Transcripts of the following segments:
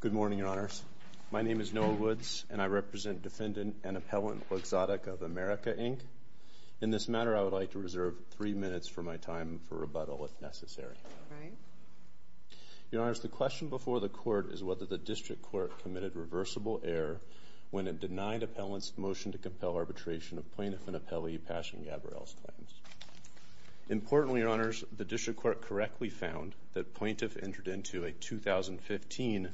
Good morning, Your Honors. My name is Noah Woods, and I represent Defendant and Appellant Luxottica of America, Inc. In this matter, I would like to reserve three minutes for my time for rebuttal, if necessary. Your Honors, the question before the Court is whether the District Court committed reversible error when it denied Appellant's motion to compel arbitration of Plaintiff and Appellee Passion Gabourel's claims. Importantly, Your Honors, the District Court correctly found that Plaintiff entered into a 2015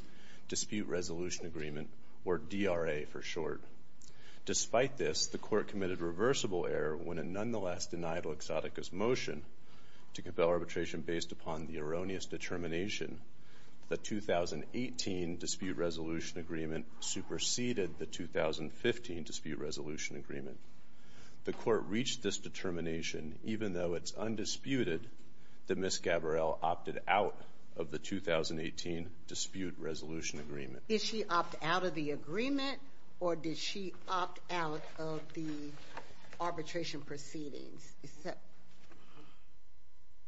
Dispute Resolution Agreement, or DRA for short. Despite this, the Court committed reversible error when it nonetheless denied Luxottica's motion to compel arbitration based upon the erroneous determination that the 2018 Dispute Resolution Agreement superseded the 2015 Dispute Resolution Agreement. The Court reached this determination, even though it's undisputed, that Ms. Gabourel opted out of the 2018 Dispute Resolution Agreement. Did she opt out of the agreement, or did she opt out of the arbitration proceedings?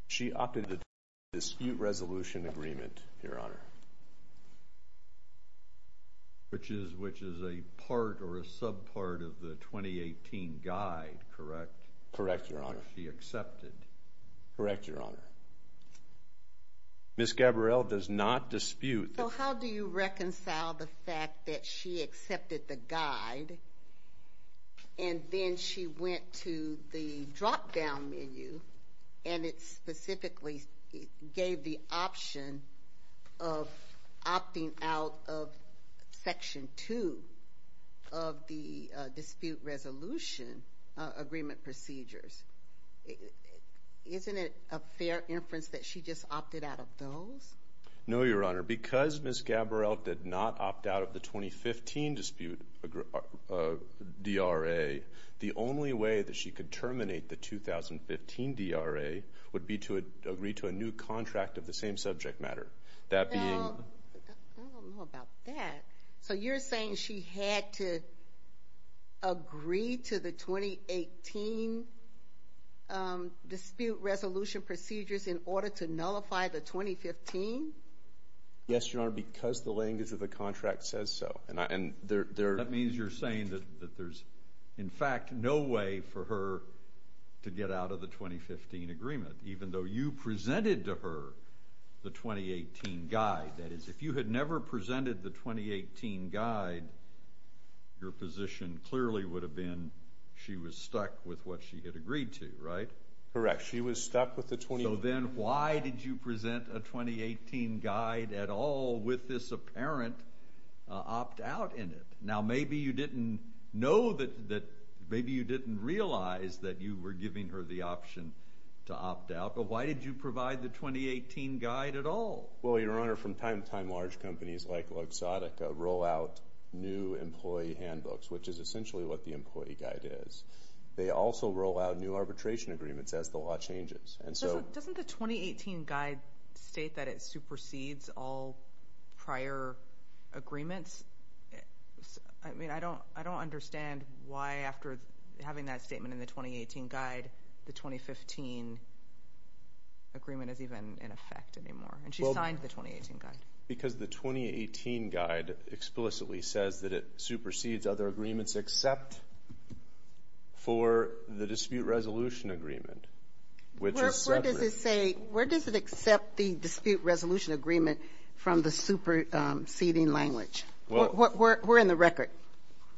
She opted out of the Dispute Resolution Agreement, Your Honor. Which is a part or a sub-part of the 2018 guide, correct? Correct, Your Honor. She accepted. Correct, Your Honor. Ms. Gabourel does not dispute the… So how do you reconcile the fact that she accepted the guide, and then she went to the drop-down menu, and it specifically gave the option of opting out of Section 2 of the Dispute Resolution Agreement procedures? Isn't it a fair inference that she just opted out of those? No, Your Honor. Because Ms. Gabourel did not opt out of the 2015 dispute DRA, the only way that she could terminate the 2015 DRA would be to agree to a new contract of the same subject matter. That being… I don't know about that. So you're saying she had to agree to the 2018 Dispute Resolution procedures in order to nullify the 2015? Yes, Your Honor, because the language of the contract says so. That means you're saying that there's, in fact, no way for her to get out of the 2015 agreement, even though you presented to her the 2018 guide. That is, if you had never presented the 2018 guide, your position clearly would have been she was stuck with what she had agreed to, right? Correct. She was stuck with the 20… So then why did you present a 2018 guide at all with this apparent opt-out in it? Now maybe you didn't know that, maybe you didn't realize that you were giving her the option to opt out, but why did you provide the 2018 guide at all? Well, Your Honor, from time to time, large companies like Luxottica roll out new employee handbooks, which is essentially what the employee guide is. They also roll out new arbitration agreements as the law changes. Doesn't the 2018 guide state that it supersedes all prior agreements? I mean, I don't understand why, after having that statement in the 2018 guide, the 2015 agreement is even in effect anymore, and she signed the 2018 guide. Because the 2018 guide explicitly says that it supersedes other agreements except for the dispute resolution agreement, which is separate. Where does it say, where does it accept the dispute resolution agreement from the superseding language? Where in the record?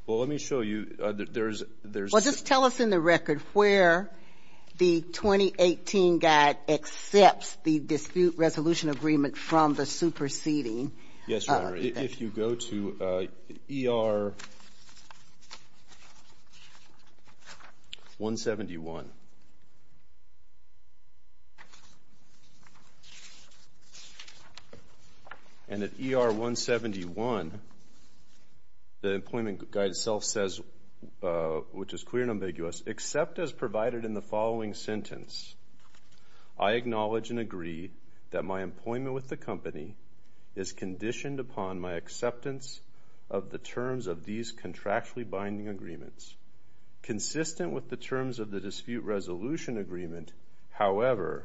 Well, let me show you, there's… Well, just tell us in the record where the 2018 guide accepts the dispute resolution agreement from the superseding. Yes, Your Honor, if you go to ER 171, and at ER 171, the employment guide itself says, which is clear and ambiguous, except as provided in the following sentence, I acknowledge and is conditioned upon my acceptance of the terms of these contractually binding agreements. Consistent with the terms of the dispute resolution agreement, however,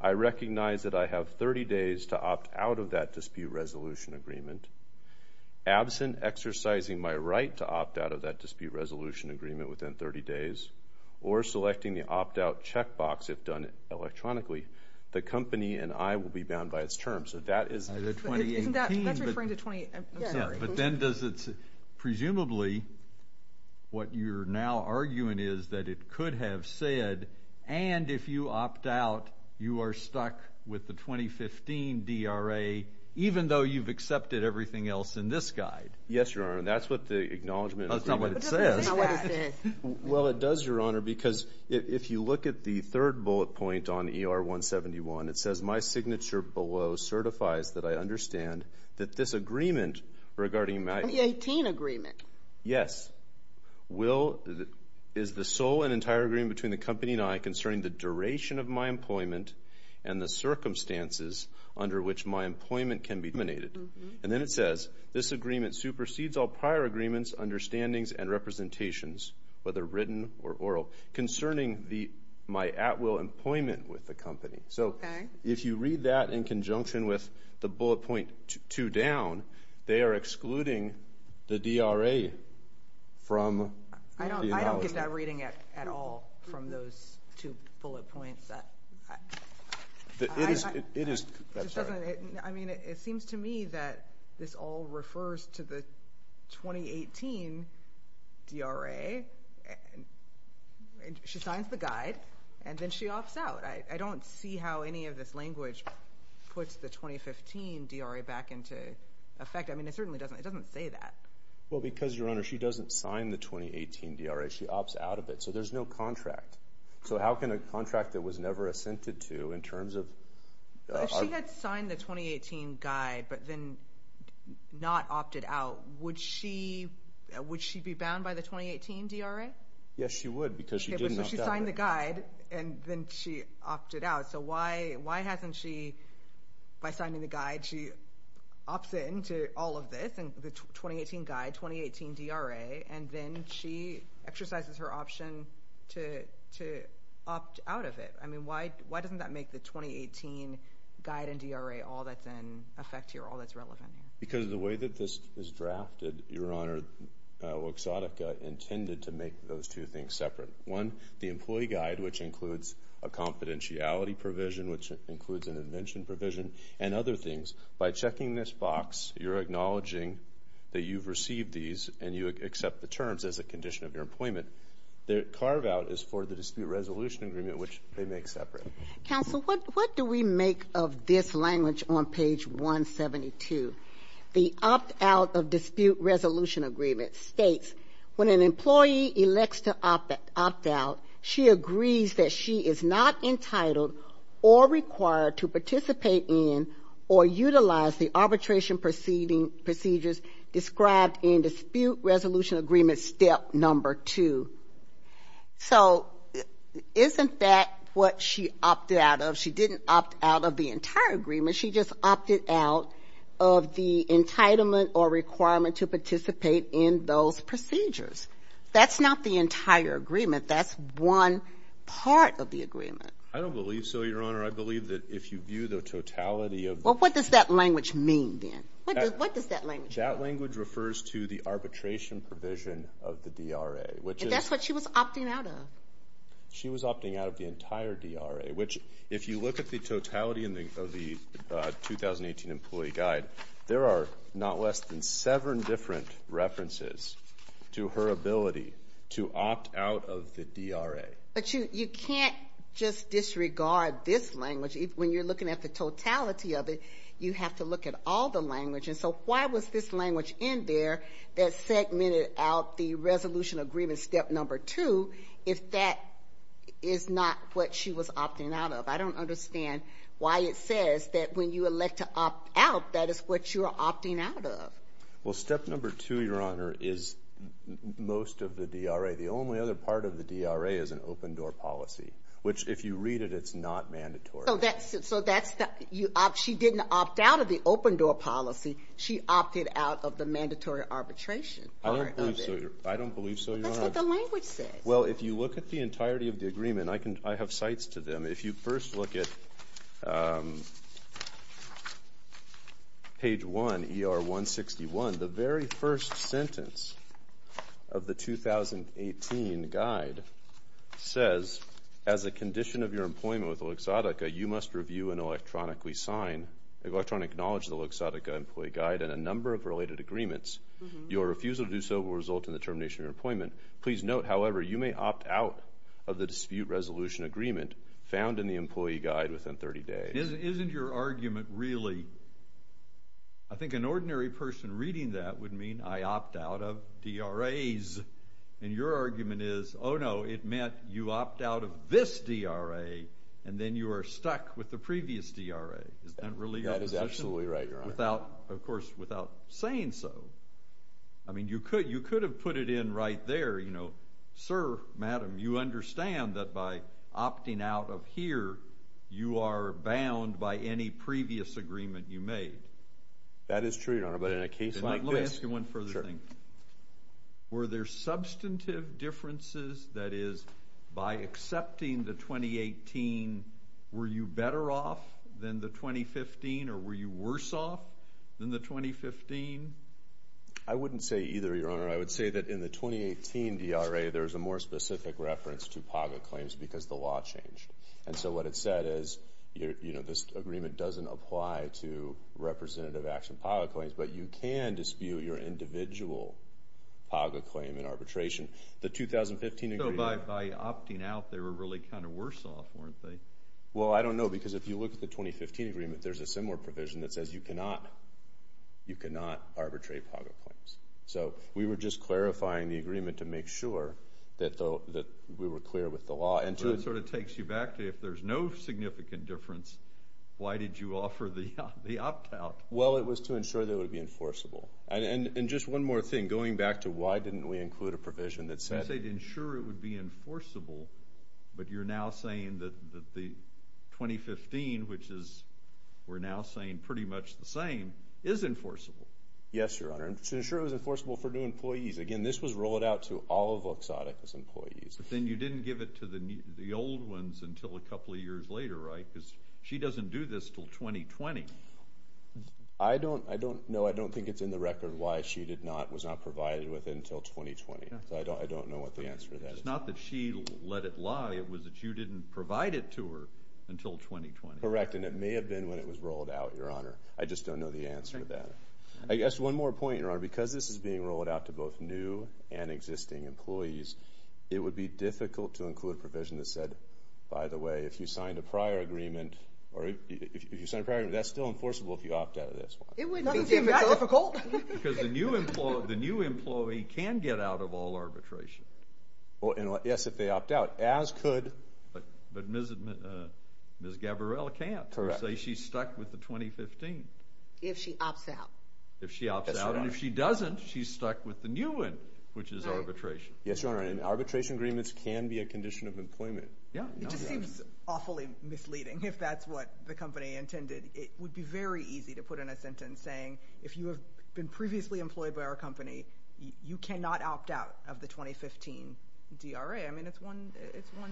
I recognize that I have 30 days to opt out of that dispute resolution agreement. Absent exercising my right to opt out of that dispute resolution agreement within 30 days, or selecting the opt-out checkbox if done electronically, the company and I will be in agreement on those terms. So that is… Isn't that… That's referring to 2018. I'm sorry. Yeah, but then does it… Presumably, what you're now arguing is that it could have said, and if you opt out, you are stuck with the 2015 DRA, even though you've accepted everything else in this guide. Yes, Your Honor, and that's what the acknowledgement agreement… That's not what it says. What does it say? Well, it does, Your Honor, because if you look at the third bullet point on ER 171, it says, my signature below certifies that I understand that this agreement regarding my… The 2018 agreement. Yes. Will… Is the sole and entire agreement between the company and I concerning the duration of my employment and the circumstances under which my employment can be dominated. And then it says, this agreement supersedes all prior agreements, understandings, and representations, whether written or oral, concerning the… My at-will employment with the company. Okay. So, if you read that in conjunction with the bullet point two down, they are excluding the DRA from the acknowledgement. I don't get that reading at all from those two bullet points. It is… It is… I'm sorry. It doesn't… I mean, it seems to me that this all refers to the 2018 DRA, and she signs the guide, and then she opts out. I don't see how any of this language puts the 2015 DRA back into effect. I mean, it certainly doesn't… It doesn't say that. Well, because, Your Honor, she doesn't sign the 2018 DRA. She opts out of it. So, there's no contract. So, how can a contract that was never assented to, in terms of… If she had signed the 2018 guide, but then not opted out, would she… Would she be bound by the 2018 DRA? Yes, she would, because she didn't opt out of it. She signed the guide, and then she opted out. So, why hasn't she… By signing the guide, she opts in to all of this, and the 2018 guide, 2018 DRA, and then she exercises her option to opt out of it. I mean, why doesn't that make the 2018 guide and DRA all that's in effect here, all that's relevant here? Because of the way that this is drafted, Your Honor, Exotica intended to make those two things separate. One, the employee guide, which includes a confidentiality provision, which includes an invention provision, and other things. By checking this box, you're acknowledging that you've received these, and you accept the terms as a condition of your employment. The carve-out is for the dispute resolution agreement, which they make separate. Counsel, what do we make of this language on page 172? The opt-out of dispute resolution agreement states, when an employee elects to opt out, she agrees that she is not entitled or required to participate in or utilize the arbitration procedures described in dispute resolution agreement step number two. So, isn't that what she opted out of? She didn't opt out of the entire agreement. She just opted out of the entitlement or requirement to participate in those procedures. That's not the entire agreement. That's one part of the agreement. I don't believe so, Your Honor. I believe that if you view the totality of the... Well, what does that language mean, then? What does that language mean? That language refers to the arbitration provision of the DRA, which is... That's what she was opting out of. She was opting out of the entire DRA, which, if you look at the totality of the 2018 Employee Guide, there are not less than seven different references to her ability to opt out of the DRA. But you can't just disregard this language. When you're looking at the totality of it, you have to look at all the language. And so, why was this language in there that segmented out the resolution agreement step number two, if that is not what she was opting out of? I don't understand why it says that when you elect to opt out, that is what you are opting out of. Well, step number two, Your Honor, is most of the DRA. The only other part of the DRA is an open door policy, which, if you read it, it's not mandatory. So that's the... She didn't opt out of the open door policy. She opted out of the mandatory arbitration part of it. I don't believe so, Your Honor. That's what the language says. Well, if you look at the entirety of the agreement, I have cites to them. If you first look at page one, ER 161, the very first sentence of the 2018 Guide says, as a condition of your employment with Luxottica, you must review and electronically sign, electronic knowledge of the Luxottica Employee Guide and a number of related agreements. Your refusal to do so will result in the termination of your employment. Please note, however, you may opt out of the dispute resolution agreement found in the Employee Guide within 30 days. Isn't your argument really... I think an ordinary person reading that would mean, I opt out of DRAs. And your argument is, oh no, it meant you opt out of this DRA, and then you are stuck with the previous DRA. Isn't that really... That is absolutely right, Your Honor. Of course, without saying so, you could have put it in right there, sir, madam, you understand that by opting out of here, you are bound by any previous agreement you made. That is true, Your Honor. But in a case like this... Let me ask you one further thing. Were there substantive differences, that is, by accepting the 2018, were you better off than the 2015, or were you worse off than the 2015? I wouldn't say either, Your Honor. I would say that in the 2018 DRA, there is a more specific reference to PAGA claims because the law changed. And so what it said is, you know, this agreement doesn't apply to representative action PAGA claims, but you can dispute your individual PAGA claim in arbitration. The 2015 agreement... So by opting out, they were really kind of worse off, weren't they? Well, I don't know, because if you look at the 2015 agreement, there is a similar provision that says you cannot arbitrate PAGA claims. So we were just clarifying the agreement to make sure that we were clear with the law. And so it sort of takes you back to, if there is no significant difference, why did you offer the opt-out? Well, it was to ensure that it would be enforceable. And just one more thing, going back to why didn't we include a provision that said... The 2015, which is, we're now saying, pretty much the same, is enforceable. Yes, Your Honor. It was to ensure it was enforceable for new employees. Again, this was rolled out to all of Vox Oticus employees. But then you didn't give it to the old ones until a couple of years later, right? She doesn't do this until 2020. I don't... No, I don't think it's in the record why she was not provided with it until 2020. I don't know what the answer to that is. It's not that she let it lie, it was that you didn't provide it to her until 2020. Correct. And it may have been when it was rolled out, Your Honor. I just don't know the answer to that. I guess one more point, Your Honor. Because this is being rolled out to both new and existing employees, it would be difficult to include a provision that said, by the way, if you signed a prior agreement, that's still enforceable if you opt out of this one. It wouldn't be that difficult. Because the new employee can get out of all arbitration. Well, yes, if they opt out, as could... But Ms. Gabrielle can't, who say she's stuck with the 2015. If she opts out. If she opts out. And if she doesn't, she's stuck with the new one, which is arbitration. Yes, Your Honor. And arbitration agreements can be a condition of employment. Yeah. It just seems awfully misleading, if that's what the company intended. It would be very easy to put in a sentence saying, if you have been previously employed by our company, you cannot opt out of the 2015 DRA. I mean, it's one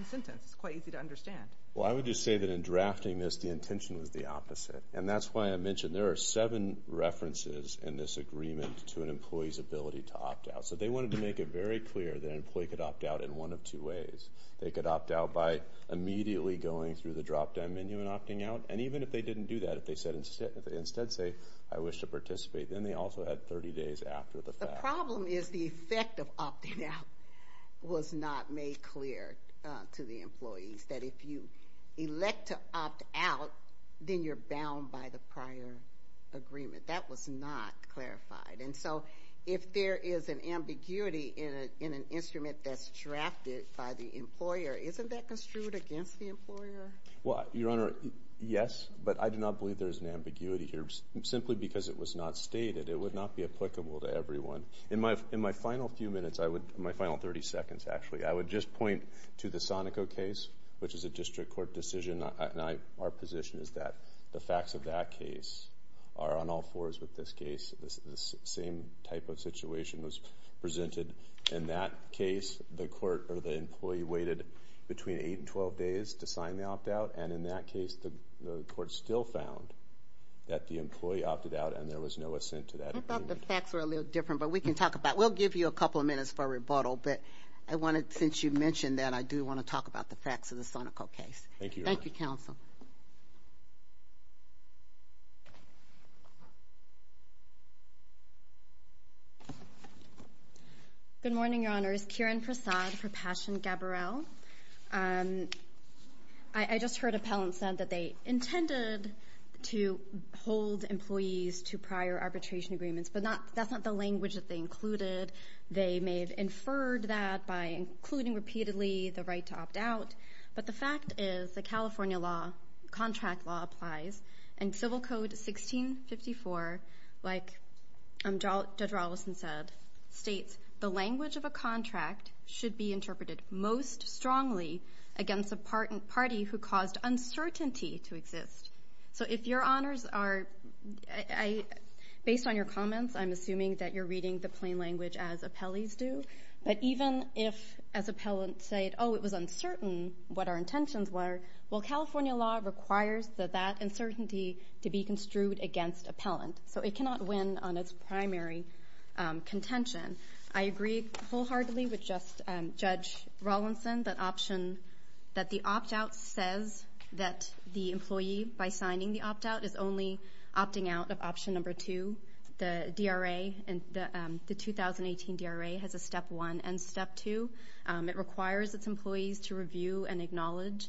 sentence. It's quite easy to understand. Well, I would just say that in drafting this, the intention was the opposite. And that's why I mentioned there are seven references in this agreement to an employee's ability to opt out. So they wanted to make it very clear that an employee could opt out in one of two ways. They could opt out by immediately going through the drop-down menu and opting out. And even if they didn't do that, if they instead say, I wish to participate, then they also had 30 days after the fact. The problem is the effect of opting out was not made clear to the employees, that if you elect to opt out, then you're bound by the prior agreement. That was not clarified. And so, if there is an ambiguity in an instrument that's drafted by the employer, isn't that construed against the employer? Well, Your Honor, yes. But I do not believe there is an ambiguity here, simply because it was not stated. It would not be applicable to everyone. In my final few minutes, my final 30 seconds, actually, I would just point to the Sonico case, which is a district court decision. Our position is that the facts of that case are on all fours with this case. The same type of situation was presented in that case. The court or the employee waited between 8 and 12 days to sign the opt out. And in that case, the court still found that the employee opted out and there was no assent to that agreement. I thought the facts were a little different, but we can talk about it. We'll give you a couple of minutes for rebuttal, but I wanted, since you mentioned that, I do want to talk about the facts of the Sonico case. Thank you, Your Honor. Thank you, Counsel. Good morning, Your Honors. Kieran Prasad for Passion Gabberell. I just heard appellants said that they intended to hold employees to prior arbitration agreements, but that's not the language that they included. They may have inferred that by including repeatedly the right to opt out. But the fact is the California law, contract law, applies. And Civil Code 1654, like Judge Rawlinson said, states the language of a contract should be interpreted most strongly against a party who caused uncertainty to exist. So if Your Honors are, based on your comments, I'm assuming that you're reading the plain language as appellees do, but even if, as appellants say, oh, it was uncertain what our intentions were, well, California law requires that that uncertainty to be construed against appellant. So it cannot win on its primary contention. I agree wholeheartedly with Judge Rawlinson that the opt out says that the employee, by signing the opt out, is only opting out of option number two. The DRA, the 2018 DRA, has a step one and step two. It requires its employees to review and acknowledge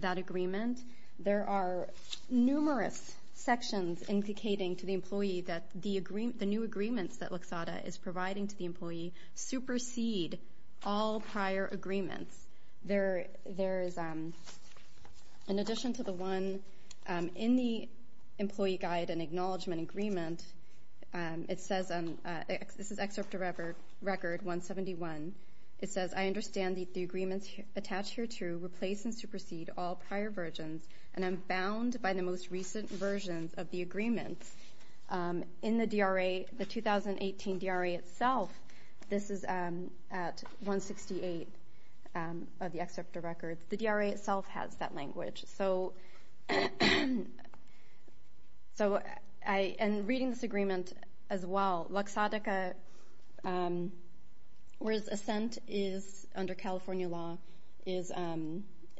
that agreement. There are numerous sections indicating to the employee that the new agreements that are providing to the employee supersede all prior agreements. There is, in addition to the one in the employee guide and acknowledgement agreement, it says, this is excerpt of record 171, it says, I understand that the agreements attached here to replace and supersede all prior versions, and I'm bound by the most recent versions of the agreements. In the DRA, the 2018 DRA itself, this is at 168 of the excerpt of records, the DRA itself has that language. So in reading this agreement as well, Laxatica, whereas assent is under California law, is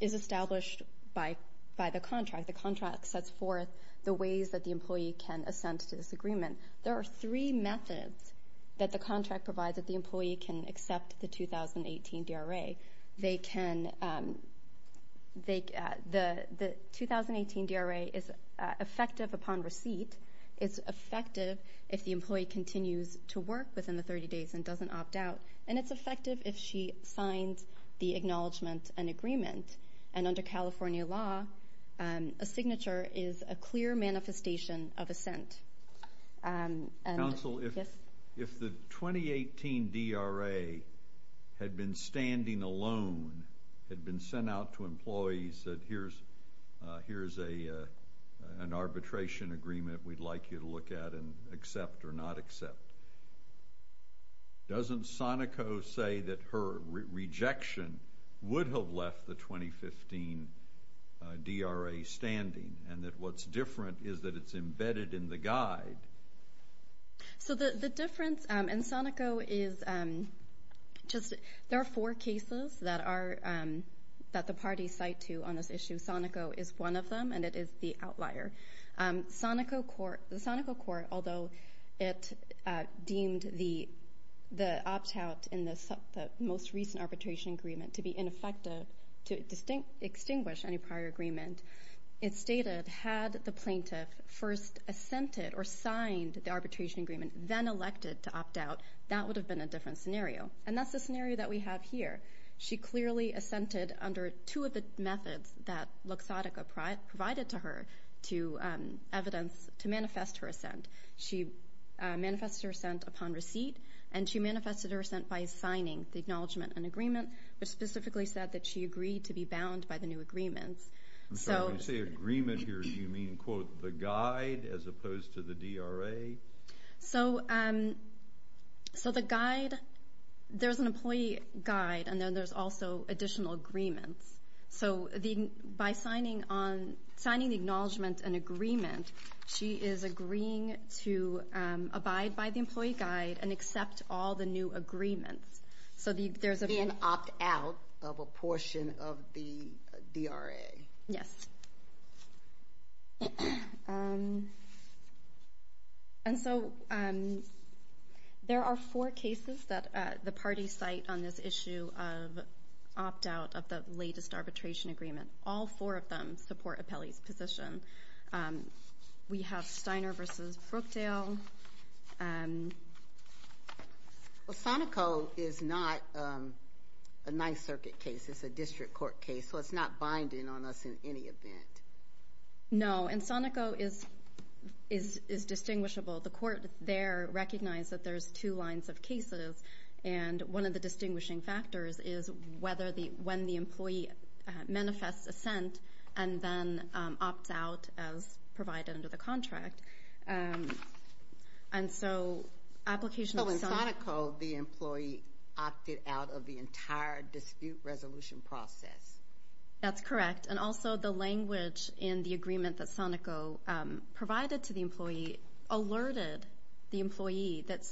established by the contract. The contract sets forth the ways that the employee can assent to this agreement. There are three methods that the contract provides that the employee can accept the 2018 DRA. They can, the 2018 DRA is effective upon receipt, it's effective if the employee continues to work within the 30 days and doesn't opt out, and it's effective if she signs the acknowledgement and agreement. And under California law, a signature is a clear manifestation of assent. Counsel, if the 2018 DRA had been standing alone, had been sent out to employees, said here's an arbitration agreement we'd like you to look at and accept or not accept, doesn't Sonico say that her rejection would have left the 2015 DRA standing and that what's different is that it's embedded in the guide? So the difference in Sonico is just, there are four cases that the parties cite to on this issue. Sonico is one of them and it is the outlier. The Sonico court, although it deemed the opt out in the most recent arbitration agreement to be ineffective, to extinguish any prior agreement, it stated had the plaintiff first assented or signed the arbitration agreement, then elected to opt out, that would have been a different scenario. And that's the scenario that we have here. She clearly assented under two of the methods that Luxottica provided to her to manifest her assent. She manifested her assent upon receipt and she manifested her assent by signing the acknowledgement and agreement, which specifically said that she agreed to be bound by the new agreements. So when you say agreement here, do you mean quote the guide as opposed to the DRA? So the guide, there's an employee guide and then there's also additional agreements. So by signing on, signing the acknowledgement and agreement, she is agreeing to abide by the employee guide and accept all the new agreements. So there's a- The opt out of a portion of the DRA. Yes. And so there are four cases that the parties cite on this issue of opt out of the latest arbitration agreement. All four of them support Apelli's position. We have Steiner v. Brookdale. Well, Sonico is not a Ninth Circuit case, it's a district court case, so it's not binding on us in any event. No. And Sonico is distinguishable. The court there recognized that there's two lines of cases and one of the distinguishing factors is when the employee manifests assent and then opts out as provided under the contract. And so application of Sonico- So in Sonico, the employee opted out of the entire dispute resolution process. That's correct. And also the language in the agreement that Sonico provided to the employee alerted the employee that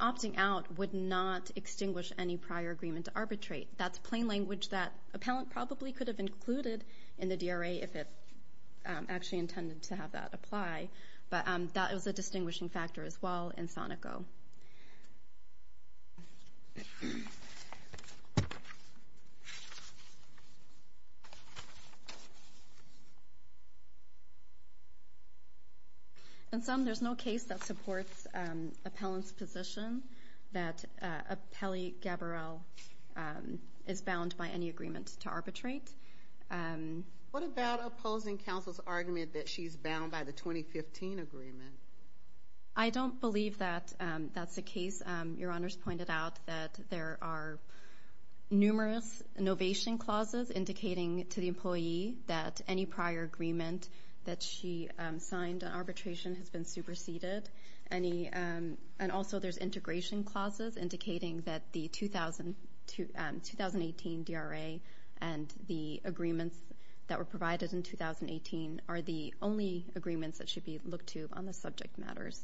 opting out would not extinguish any prior agreement to arbitrate. That's plain language that Appellant probably could have included in the DRA if it actually intended to have that apply, but that was a distinguishing factor as well in Sonico. And some, there's no case that supports Appellant's position that Apelli-Gabriel is bound by any agreement to arbitrate. What about opposing counsel's argument that she's bound by the 2015 agreement? I don't believe that that's the case. Your honors pointed out that there are numerous innovation clauses indicating to the employee that any prior agreement that she signed on arbitration has been superseded. And also there's integration clauses indicating that the 2018 DRA and the agreements that were provided in 2018 are the only agreements that should be looked to on the subject matters.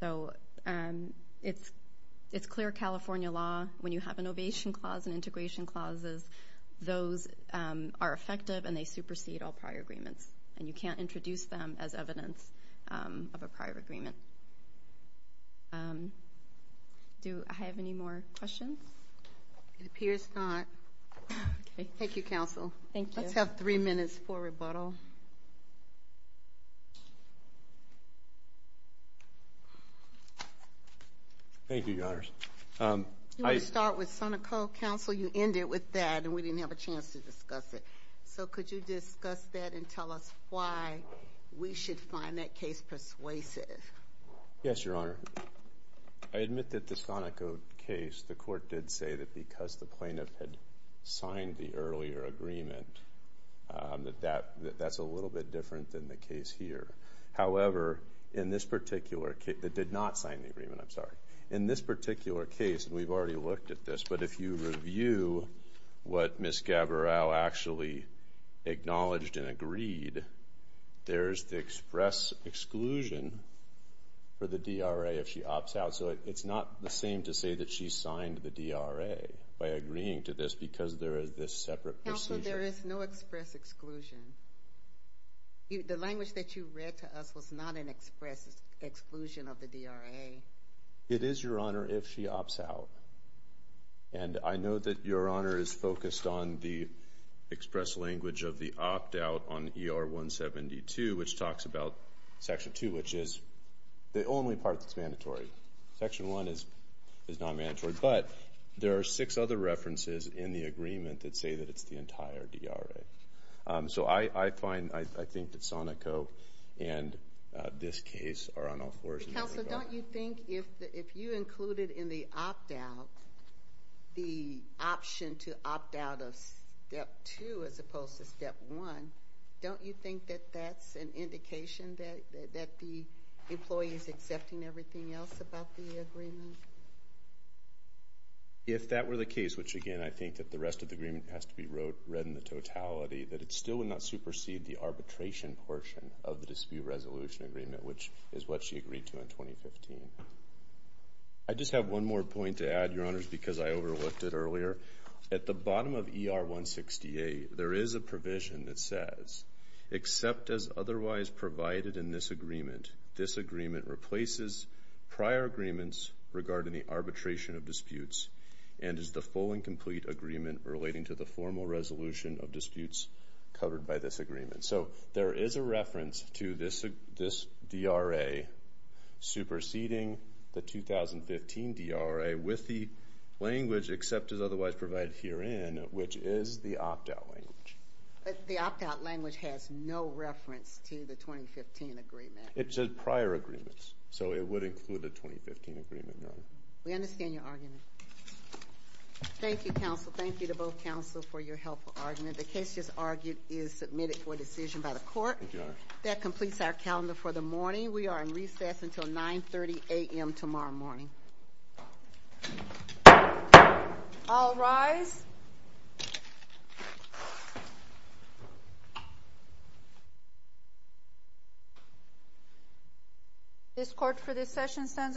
So it's clear California law when you have an innovation clause and integration clauses, those are effective and they supersede all prior agreements and you can't introduce them as evidence of a prior agreement. Do I have any more questions? It appears not. Thank you, counsel. Thank you. Let's have three minutes for rebuttal. Thank you, your honors. You want to start with Sonicoe counsel? You ended with that and we didn't have a chance to discuss it. So could you discuss that and tell us why we should find that case persuasive? Yes, your honor. I admit that the Sonicoe case, the court did say that because the plaintiff had signed the earlier agreement, that that's a little bit different than the case here. However, in this particular case, it did not sign the agreement, I'm sorry. In this particular case, and we've already looked at this, but if you review what Ms. Gaviral actually acknowledged and agreed, there's the express exclusion for the DRA if she opts out. So it's not the same to say that she signed the DRA by agreeing to this because there is this separate procedure. Counsel, there is no express exclusion. The language that you read to us was not an express exclusion of the DRA. It is, your honor, if she opts out. And I know that your honor is focused on the express language of the opt out on ER 172, which talks about section two, which is the only part that's mandatory. Section one is not mandatory, but there are six other references in the agreement that say that it's the entire DRA. So I find, I think that Sonicoe and this case are on all fours. Counsel, don't you think if you included in the opt out the option to opt out of step two as opposed to step one, don't you think that that's an indication that the employee is accepting everything else about the agreement? If that were the case, which again, I think that the rest of the agreement has to be read in the totality, that it still would not supersede the arbitration portion of the dispute resolution agreement, which is what she agreed to in 2015. I just have one more point to add, your honors, because I overlooked it earlier. At the bottom of ER 168, there is a provision that says, except as otherwise provided in this agreement, this agreement replaces prior agreements regarding the arbitration of disputes and is the full and complete agreement relating to the formal resolution of disputes covered by this agreement. So there is a reference to this DRA superseding the 2015 DRA with the language except as otherwise provided herein, which is the opt out language. The opt out language has no reference to the 2015 agreement. It said prior agreements, so it would include the 2015 agreement, your honor. We understand your argument. Thank you, counsel. Thank you to both counsel for your helpful argument. The case just argued is submitted for decision by the court. That completes our calendar for the morning. We are in recess until 9.30 a.m. tomorrow morning. All rise. This court for this session stands adjourned.